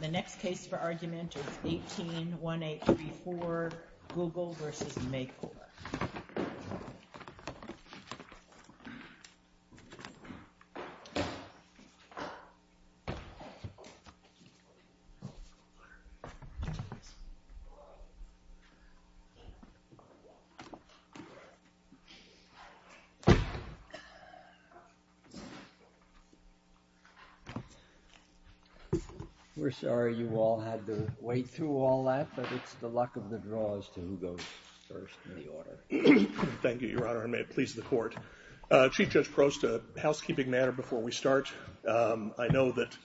The next case for argument is 18-1834, Google v. Makor. We're sorry you all had to wait through all that, but it's the luck of the draw as to who goes first in the order. Thank you, Your Honor, and may it please the Court. Chief Judge Prost, a housekeeping matter before we start. I know that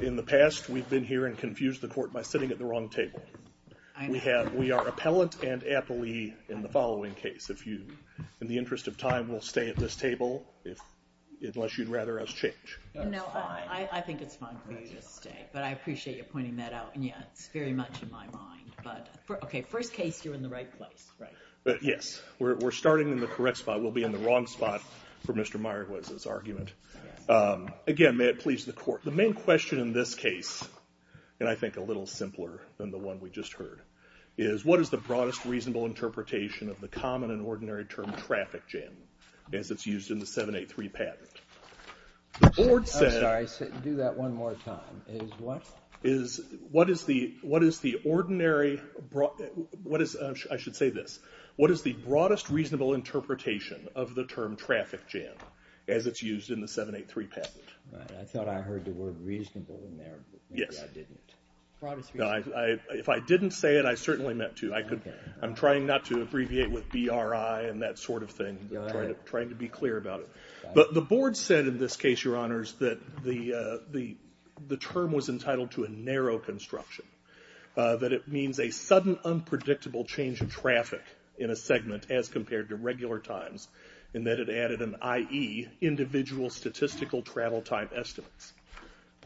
in the past we've been here and confused the Court by sitting at the wrong table. We are appellant and appellee in the following case. If you, in the interest of time, will stay at this table, unless you'd rather us change. No, I think it's fine for you to stay, but I appreciate you pointing that out. It's very much in my mind. First case, you're in the right place. Yes, we're starting in the correct spot. We'll be in the wrong spot for Mr. Meyerwood's argument. Again, may it please the Court. The main question in this case, and I think a little simpler than the one we just heard, is what is the broadest reasonable interpretation of the common and ordinary term traffic jam as it's used in the 783 patent? I'm sorry, do that one more time. What is the broadest reasonable interpretation of the term traffic jam as it's used in the 783 patent? I thought I heard the word reasonable in there, but maybe I didn't. If I didn't say it, I certainly meant to. I'm trying not to abbreviate with BRI and that sort of thing. I'm trying to be clear about it. The Board said in this case, Your Honors, that the term was entitled to a narrow construction, that it means a sudden, unpredictable change in traffic in a segment as compared to regular times, and that it added an IE, individual statistical travel time estimates.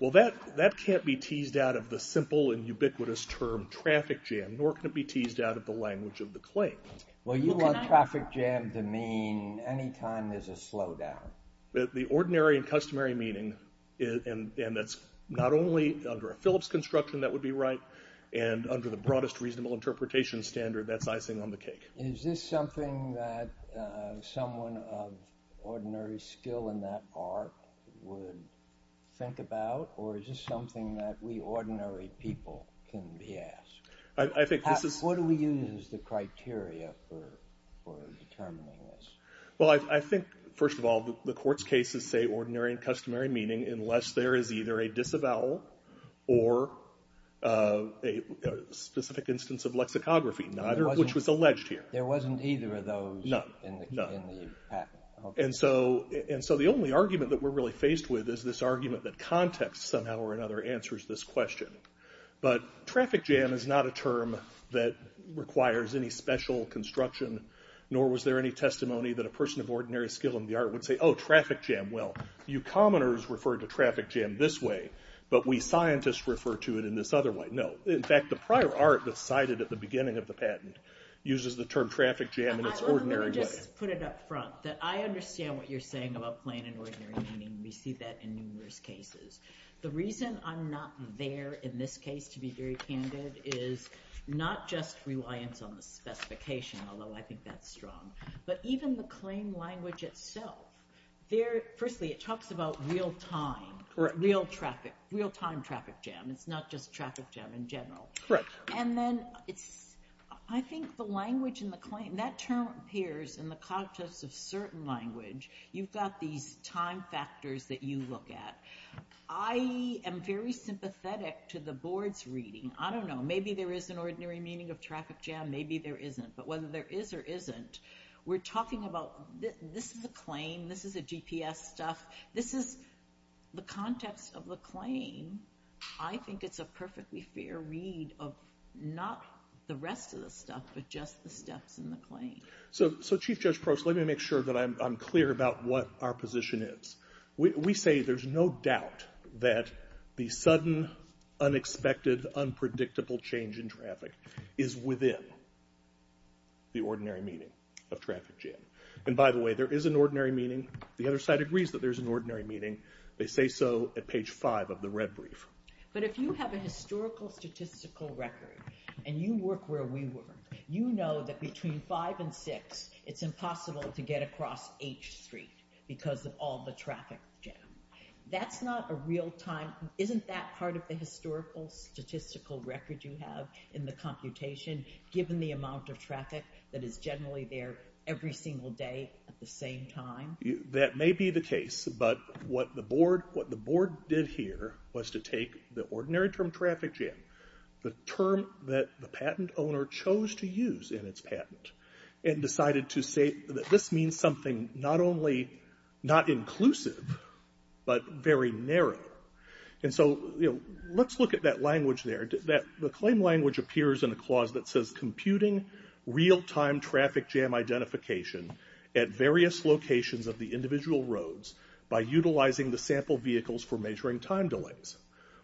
Well, that can't be teased out of the simple and ubiquitous term traffic jam, nor can it be teased out of the language of the claim. Well, you want traffic jam to mean any time there's a slowdown. The ordinary and customary meaning, and that's not only under a Phillips construction, that would be right, and under the broadest reasonable interpretation standard, that's icing on the cake. Is this something that someone of ordinary skill in that art would think about, or is this something that we ordinary people can be asked? What do we use as the criteria for determining this? Well, I think, first of all, the court's cases say ordinary and customary meaning unless there is either a disavowal or a specific instance of lexicography, which was alleged here. There wasn't either of those in the patent. And so the only argument that we're really faced with is this argument that context somehow or another answers this question. But traffic jam is not a term that requires any special construction, nor was there any testimony that a person of ordinary skill in the art would say, oh, traffic jam. Well, you commoners refer to traffic jam this way, but we scientists refer to it in this other way. No, in fact, the prior art that's cited at the beginning of the patent uses the term traffic jam in its ordinary way. Let me just put it up front, that I understand what you're saying about plain and ordinary meaning. We see that in numerous cases. The reason I'm not there in this case to be very candid is not just reliance on the specification, although I think that's strong, but even the claim language itself. Firstly, it talks about real time, real time traffic jam. It's not just traffic jam in general. I think the language in the claim, that term appears in the context of certain language. You've got these time factors that you look at. I am very sympathetic to the board's reading. I don't know. Maybe there is an ordinary meaning of traffic jam. Maybe there isn't. But whether there is or isn't, we're talking about this is a claim. This is a GPS stuff. This is the context of the claim. I think it's a perfectly fair read of not the rest of the stuff, but just the steps in the claim. So Chief Judge Probst, let me make sure that I'm clear about what our position is. We say there's no doubt that the sudden, unexpected, unpredictable change in traffic is within the ordinary meaning of traffic jam. And by the way, there is an ordinary meaning. The other side agrees that there's an ordinary meaning. They say so at page 5 of the red brief. But if you have a historical statistical record and you work where we work, you know that between 5 and 6, it's impossible to get across H Street because of all the traffic jam. That's not a real time. Isn't that part of the historical statistical record you have in the computation, given the amount of traffic that is generally there every single day at the same time? That may be the case, but what the board did here was to take the ordinary term traffic jam, the term that the patent owner chose to use in its patent, and decided to say that this means something not only not inclusive, but very narrow. And so let's look at that language there. The claim language appears in a clause that says computing real time traffic jam identification at various locations of the individual roads by utilizing the sample vehicles for measuring time delays.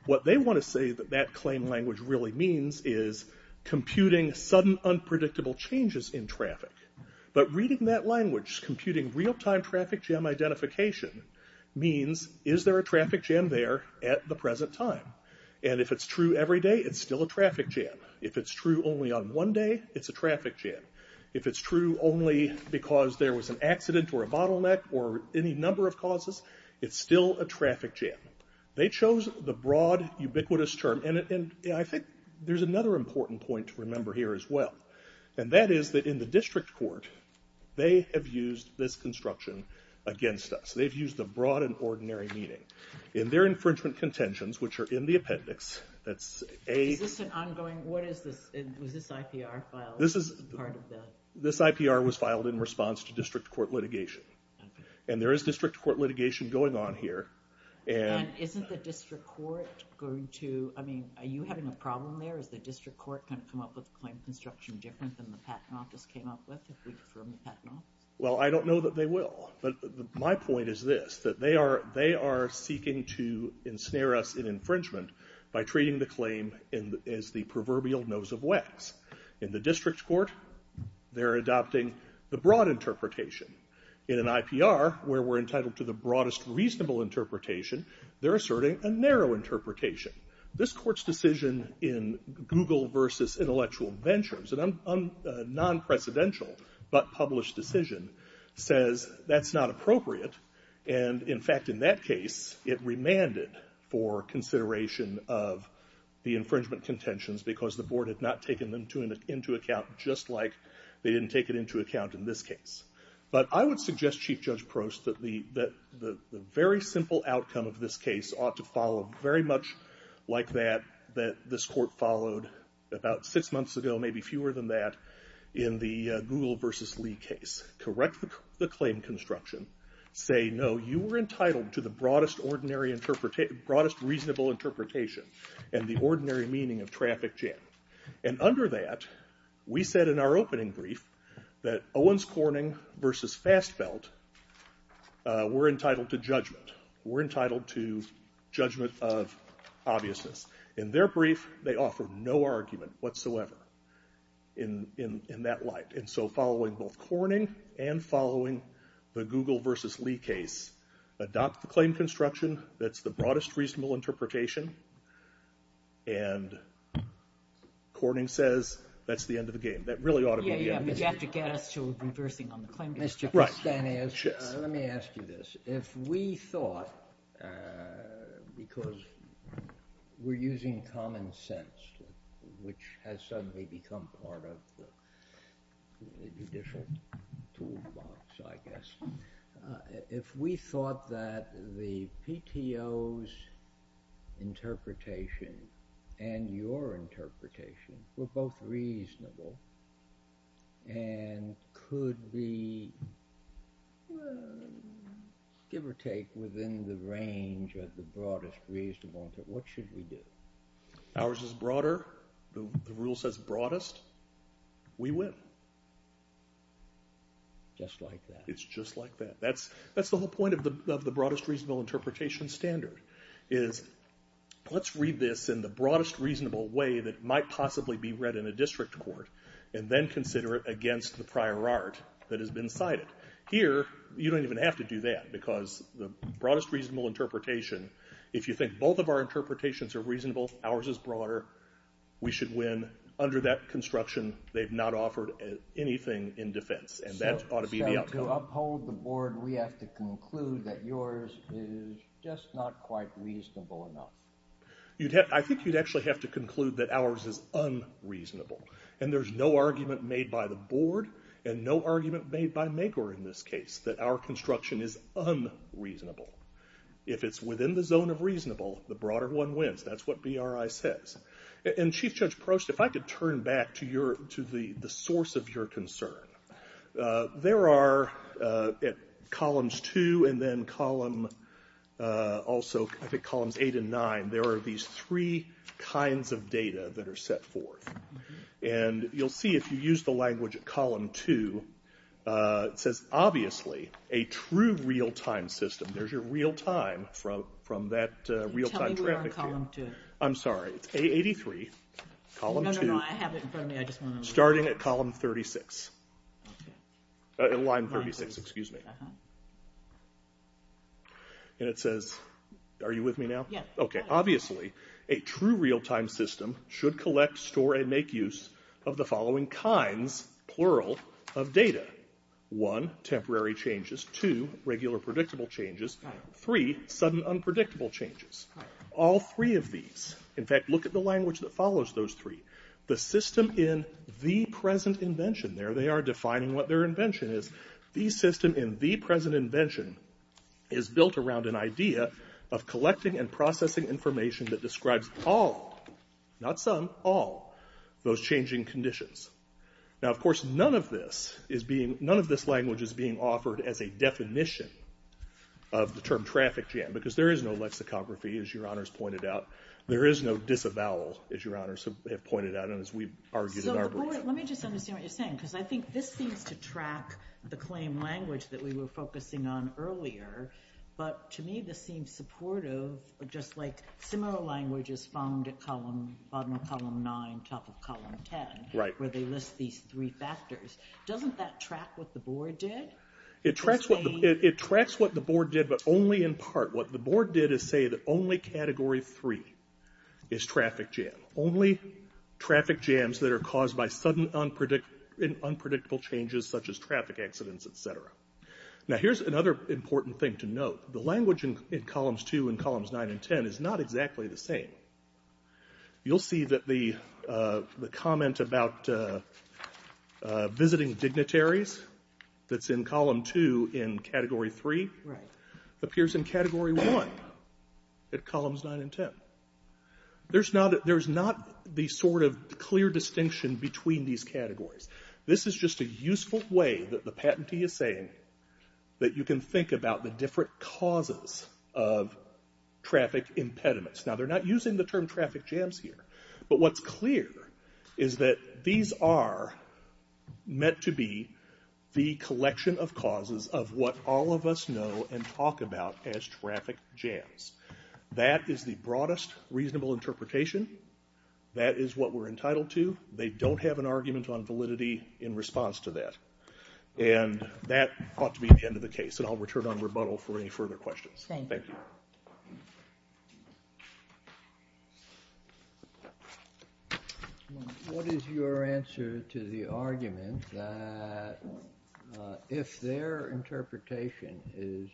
What they want to say that that claim language really means is computing sudden, unpredictable changes in traffic. But reading that language, computing real time traffic jam identification, means is there a traffic jam there at the present time? And if it's true every day, it's still a traffic jam. If it's true only on one day, it's a traffic jam. If it's true only because there was an accident or a bottleneck or any number of causes, it's still a traffic jam. They chose the broad, ubiquitous term. And I think there's another important point to remember here as well. And that is that in the district court, they have used this construction against us. They've used the broad and ordinary meaning. In their infringement contentions, which are in the appendix, that's a... Is this an ongoing, what is this, was this IPR filed as part of the... This IPR was filed in response to district court litigation. And there is district court litigation going on here. And isn't the district court going to, I mean, are you having a problem there? Is the district court going to come up with a claim of construction different than the patent office came up with, if we confirm the patent office? Well, I don't know that they will. But my point is this, that they are seeking to ensnare us in infringement by treating the claim as the proverbial nose of wax. In the district court, they're adopting the broad interpretation. In an IPR, where we're entitled to the broadest reasonable interpretation, they're asserting a narrow interpretation. This court's decision in Google versus Intellectual Ventures, a non-precedential but published decision, says that's not appropriate. And, in fact, in that case, it remanded for consideration of the infringement contentions because the board had not taken them into account just like they didn't take it into account in this case. But I would suggest, Chief Judge Prost, that the very simple outcome of this case ought to follow very much like that that this court followed about six months ago, maybe fewer than that, in the Google versus Lee case. Correct the claim construction. Say, no, you were entitled to the broadest reasonable interpretation and the ordinary meaning of traffic jam. And under that, we said in our opening brief that Owens Corning versus Fast Belt were entitled to judgment. Were entitled to judgment of obviousness. In their brief, they offered no argument whatsoever in that light. And so following both Corning and following the Google versus Lee case, adopt the claim construction that's the broadest reasonable interpretation, and Corning says that's the end of the game. That really ought to be the end of the game. You have to get us to reversing on the claim construction. Mr. Castanheiros, let me ask you this. If we thought, because we're using common sense, which has suddenly become part of judicial toolbox, I guess. If we thought that the PTO's interpretation and your interpretation were both reasonable and could be, give or take, within the range of the broadest reasonable interpretation, what should we do? Ours is broader. The rule says broadest. We win. Just like that. It's just like that. That's the whole point of the broadest reasonable interpretation standard is let's read this in the broadest reasonable way that might possibly be read in a district court and then consider it against the prior art that has been cited. Here, you don't even have to do that because the broadest reasonable interpretation, if you think both of our interpretations are reasonable, ours is broader, we should win. Under that construction, they've not offered anything in defense, and that ought to be the outcome. So to uphold the board, we have to conclude that yours is just not quite reasonable enough. I think you'd actually have to conclude that ours is unreasonable, and there's no argument made by the board and no argument made by Mager in this case that our construction is unreasonable. If it's within the zone of reasonable, the broader one wins. That's what BRI says. And Chief Judge Prost, if I could turn back to the source of your concern. There are at Columns 2 and then Columns 8 and 9, there are these three kinds of data that are set forth. And you'll see if you use the language at Column 2, it says, obviously, a true real-time system. There's your real-time from that real-time trajectory. Tell me we're on Column 2. I'm sorry, it's A83, Column 2. No, no, no, I have it in front of me. Starting at Column 36. At Line 36, excuse me. And it says, are you with me now? Okay, obviously, a true real-time system should collect, store, and make use of the following kinds, plural, of data. One, temporary changes. Two, regular predictable changes. Three, sudden unpredictable changes. All three of these. In fact, look at the language that follows those three. The system in the present invention. There they are defining what their invention is. The system in the present invention is built around an idea of collecting and processing information that describes all, not some, all, those changing conditions. Now, of course, none of this language is being offered as a definition of the term traffic jam, because there is no lexicography, as Your Honors pointed out. There is no disavowal, as Your Honors have pointed out, and as we've argued in our board. So, let me just understand what you're saying, because I think this seems to track the claim language that we were focusing on earlier, but to me this seems supportive of just like similar languages found at bottom of Column 9, top of Column 10, where they list these three factors. Doesn't that track what the board did? It tracks what the board did, but only in part. What the board did is say that only Category 3 is traffic jam. Only traffic jams that are caused by sudden unpredictable changes, such as traffic accidents, etc. Now, here's another important thing to note. The language in Columns 2 and Columns 9 and 10 is not exactly the same. You'll see that the comment about visiting dignitaries that's in Column 2 in Category 3 appears in Category 1 at Columns 9 and 10. There's not the sort of clear distinction between these categories. This is just a useful way that the patentee is saying that you can think about the different causes of traffic impediments. Now, they're not using the term traffic jams here, but what's clear is that these are meant to be the collection of causes of what all of us know and talk about as traffic jams. That is the broadest reasonable interpretation. That is what we're entitled to. They don't have an argument on validity in response to that. And that ought to be the end of the case, and I'll return on rebuttal for any further questions. Thank you. What is your answer to the argument that if their interpretation is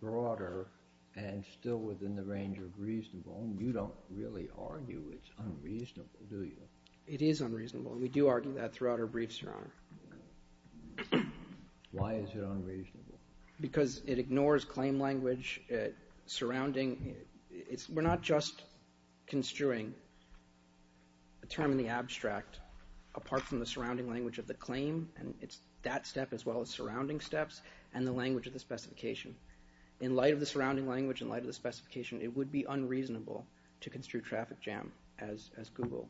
broader and still within the range of reasonable, you don't really argue it's unreasonable, do you? It is unreasonable, and we do argue that throughout our briefs, Your Honor. Why is it unreasonable? Because it ignores claim language. We're not just construing a term in the abstract apart from the surrounding language of the claim, and it's that step as well as surrounding steps, and the language of the specification. In light of the surrounding language, in light of the specification, it would be unreasonable to construe traffic jam, as Google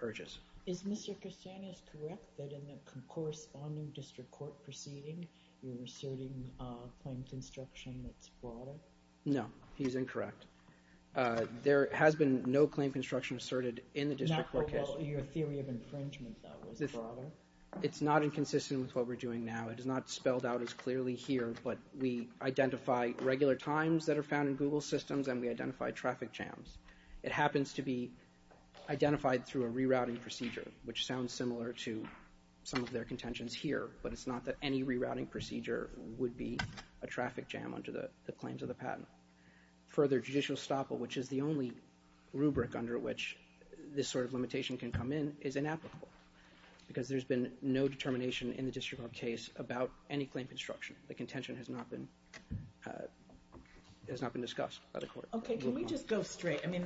urges. Is Mr. Christianos correct that in the corresponding district court proceeding, you're asserting a claim construction that's broader? No, he's incorrect. There has been no claim construction asserted in the district court case. Your theory of infringement, though, was broader? It's not inconsistent with what we're doing now. It is not spelled out as clearly here, but we identify regular times that are found in Google systems, and we identify traffic jams. It happens to be identified through a rerouting procedure, which sounds similar to some of their contentions here, but it's not that any rerouting procedure would be a traffic jam under the claims of the patent. Further, judicial estoppel, which is the only rubric under which this sort of limitation can come in, is inapplicable because there's been no determination in the district court case about any claim construction. The contention has not been discussed by the court. Okay, can we just go straight? I mean,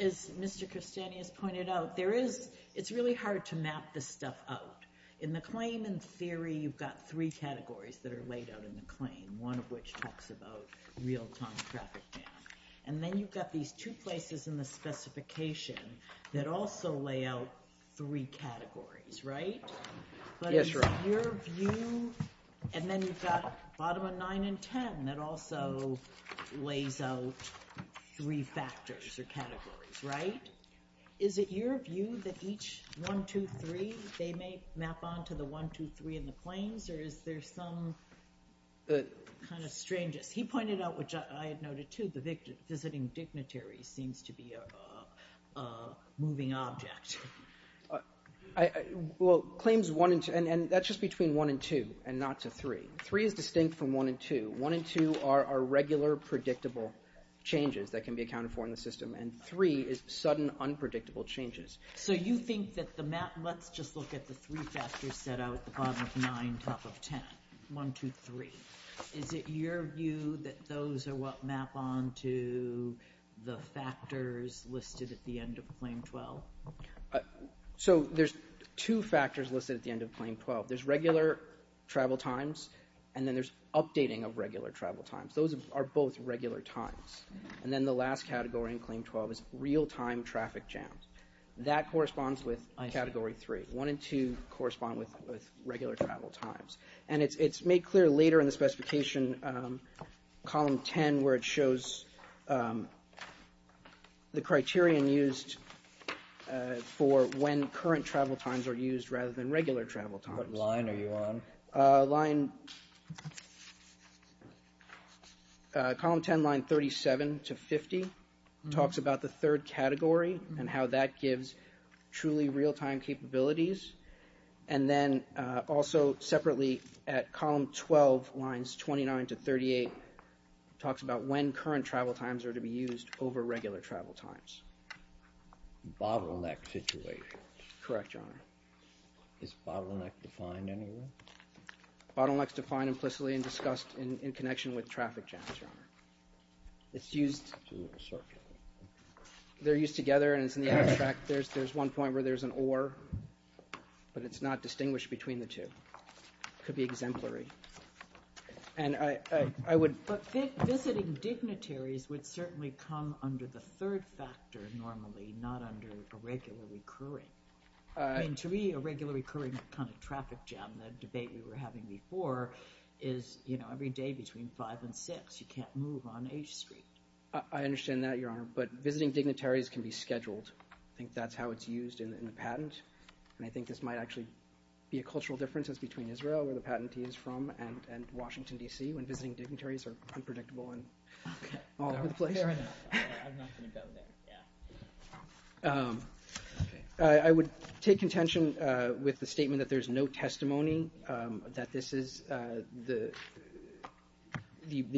as Mr. Christianos pointed out, it's really hard to map this stuff out. In the claim in theory, you've got three categories that are laid out in the claim, one of which talks about real-time traffic jam. And then you've got these two places in the specification that also lay out three categories, right? Yes, ma'am. And then you've got bottom of 9 and 10 that also lays out three factors or categories, right? Is it your view that each 1, 2, 3, they may map onto the 1, 2, 3 in the claims, or is there some kind of strangeness? He pointed out, which I had noted too, the visiting dignitary seems to be a moving object. Well, claims 1 and 2, and that's just between 1 and 2 and not to 3. 3 is distinct from 1 and 2. 1 and 2 are regular, predictable changes that can be accounted for in the system, and 3 is sudden, unpredictable changes. So you think that the map... Let's just look at the three factors set out at the bottom of 9, top of 10, 1, 2, 3. Is it your view that those are what map onto the factors listed at the end of Claim 12? So there's two factors listed at the end of Claim 12. There's regular travel times, and then there's updating of regular travel times. Those are both regular times. And then the last category in Claim 12 is real-time traffic jams. That corresponds with Category 3. 1 and 2 correspond with regular travel times. And it's made clear later in the specification, Column 10, where it shows the criterion used for when current travel times are used rather than regular travel times. What line are you on? Line... Column 10, line 37 to 50, talks about the third category and how that gives truly real-time capabilities. And then also separately at Column 12, lines 29 to 38, talks about when current travel times are to be used over regular travel times. Bottleneck situations. Correct, Your Honor. Is bottleneck defined anywhere? Bottleneck's defined implicitly and discussed in connection with traffic jams, Your Honor. It's used... They're used together, and it's in the abstract. There's one point where there's an or, but it's not distinguished between the two. It could be exemplary. And I would... But visiting dignitaries would certainly come under the third factor normally, not under a regular recurring... I mean, to me, a regular recurring kind of traffic jam, the debate we were having before, is, you know, every day between 5 and 6, you can't move on H Street. I understand that, Your Honor, but visiting dignitaries can be scheduled. I think that's how it's used in the patent. And I think this might actually be a cultural difference. It's between Israel, where the patentee is from, and Washington, D.C., when visiting dignitaries are unpredictable and all over the place. Your Honor, I'm not going to go there, yeah. I would take contention with the statement that there's no testimony that this is the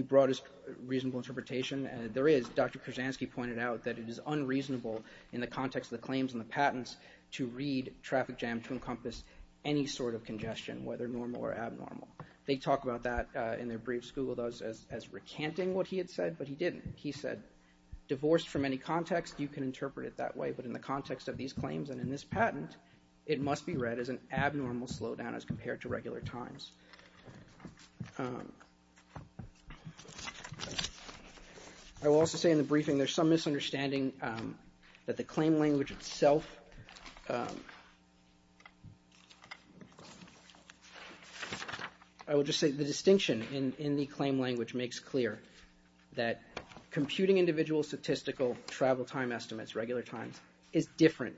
broadest reasonable interpretation. There is. Dr. Krasansky pointed out that it is unreasonable in the context of the claims and the patents to read traffic jam to encompass any sort of congestion, whether normal or abnormal. They talk about that in their briefs. Google does, as recanting what he had said, but he didn't. He said, divorced from any context, you can interpret it that way, but in the context of these claims and in this patent, it must be read as an abnormal slowdown as compared to regular times. I will also say in the briefing there's some misunderstanding that the claim language itself... I will just say the distinction in the claim language makes clear that computing individual statistical travel time estimates, regular times, is different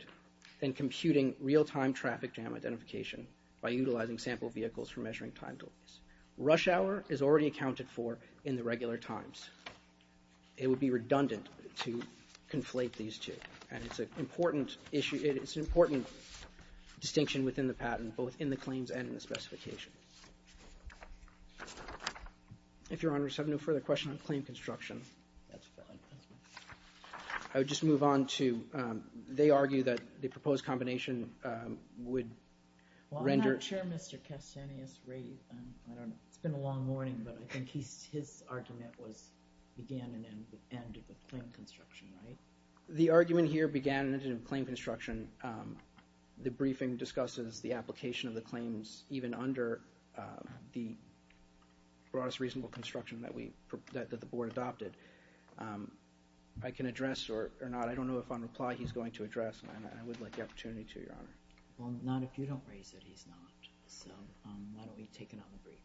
than computing real-time traffic jam identification by utilizing sample vehicles for measuring time delays. Rush hour is already accounted for in the regular times. It would be redundant to conflate these two, and it's an important distinction within the patent, both in the claims and in the specification. If Your Honors have no further questions on claim construction, I would just move on to... They argue that the proposed combination would render... Well, I'm not sure Mr. Castanis... It's been a long morning, but I think his argument was, began and ended in claim construction, right? The argument here began and ended in claim construction. The briefing discusses the application of the claims even under the broadest reasonable construction that the board adopted. I can address or not. I don't know if on reply he's going to address, and I would like the opportunity to, Your Honor. Well, not if you don't raise it, he's not. So why don't we take another brief?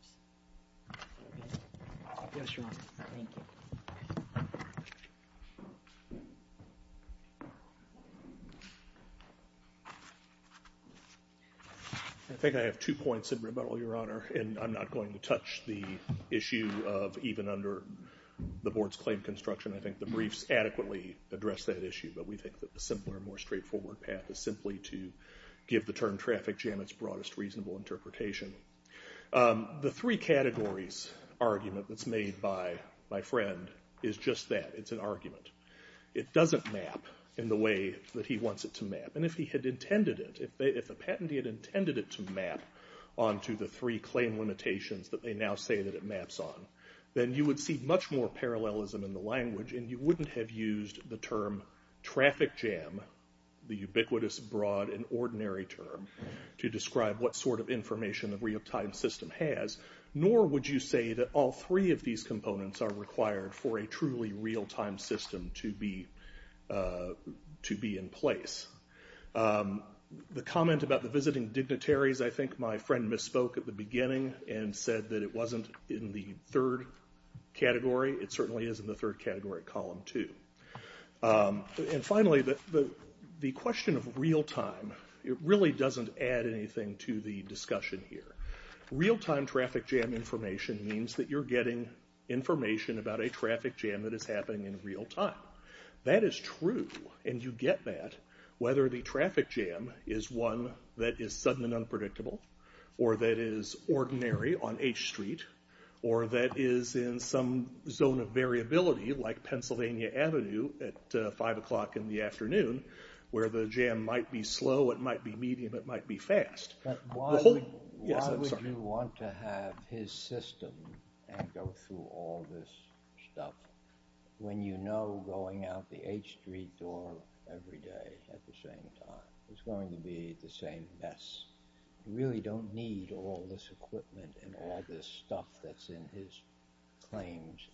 Yes, Your Honor. Thank you. I think I have two points in rebuttal, Your Honor, and I'm not going to touch the issue of even under the board's claim construction. I think the briefs adequately address that issue, but we think that the simpler, more straightforward path is simply to give the term traffic jam its broadest reasonable interpretation. The three categories argument that's made by my friend is just that, it's an argument. It doesn't map in the way that he wants it to map, and if he had intended it, if the patentee had intended it to map onto the three claim limitations that they now say that it maps on, then you would see much more parallelism in the language, and you wouldn't have used the term traffic jam, the ubiquitous, broad, and ordinary term, to describe what sort of information a real-time system has, nor would you say that all three of these components are required for a truly real-time system to be in place. The comment about the visiting dignitaries, I think my friend misspoke at the beginning and said that it wasn't in the third category. It certainly is in the third category, column two. And finally, the question of real time, it really doesn't add anything to the discussion here. Real-time traffic jam information means that you're getting information about a traffic jam that is happening in real time. That is true, and you get that, whether the traffic jam is one that is sudden and unpredictable, or that is ordinary on H Street, or that is in some zone of variability, like Pennsylvania Avenue at five o'clock in the afternoon, where the jam might be slow, it might be medium, it might be fast. But why would you want to have his system and go through all this stuff when you know going out the H Street door every day at the same time is going to be the same mess? You really don't need all this equipment and all this stuff that's in his claims.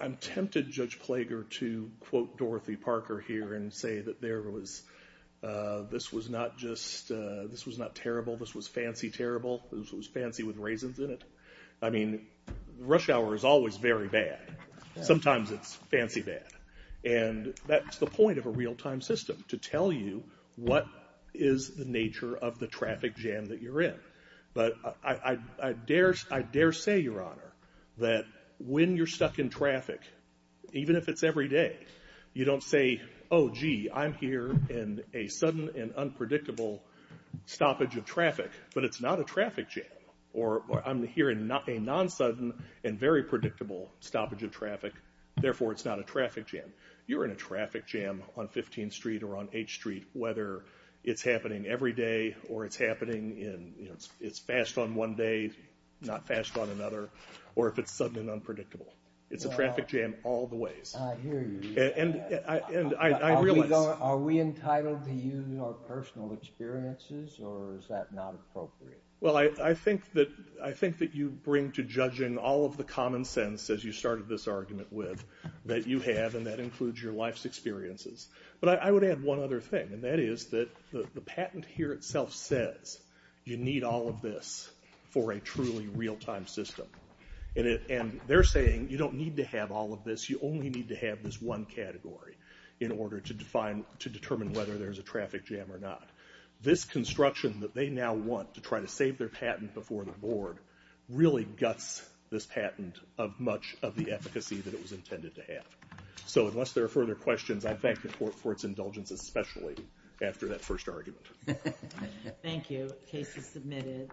I'm tempted, Judge Plager, to quote Dorothy Parker here and say that this was not terrible, this was fancy terrible, this was fancy with raisins in it. I mean, rush hour is always very bad. Sometimes it's fancy bad. And that's the point of a real-time system, to tell you what is the nature of the traffic jam that you're in. But I dare say, Your Honor, that when you're stuck in traffic, even if it's every day, you don't say, Oh, gee, I'm here in a sudden and unpredictable stoppage of traffic, but it's not a traffic jam. Or I'm here in a non-sudden and very predictable stoppage of traffic, therefore it's not a traffic jam. You're in a traffic jam on 15th Street or on H Street, whether it's happening every day, or it's happening and it's fast on one day, not fast on another, or if it's sudden and unpredictable. It's a traffic jam all the ways. I hear you. And I realize... Are we entitled to use our personal experiences, or is that not appropriate? Well, I think that you bring to judging all of the common sense, as you started this argument with, that you have, and that includes your life's experiences. But I would add one other thing, and that is that the patent here itself says you need all of this for a truly real-time system. And they're saying you don't need to have all of this, you only need to have this one category in order to determine whether there's a traffic jam or not. This construction that they now want to try to save their patent before the board really guts this patent of much of the efficacy that it was intended to have. So unless there are further questions, I thank the Court for its indulgence, especially after that first argument. Thank you. Case is submitted.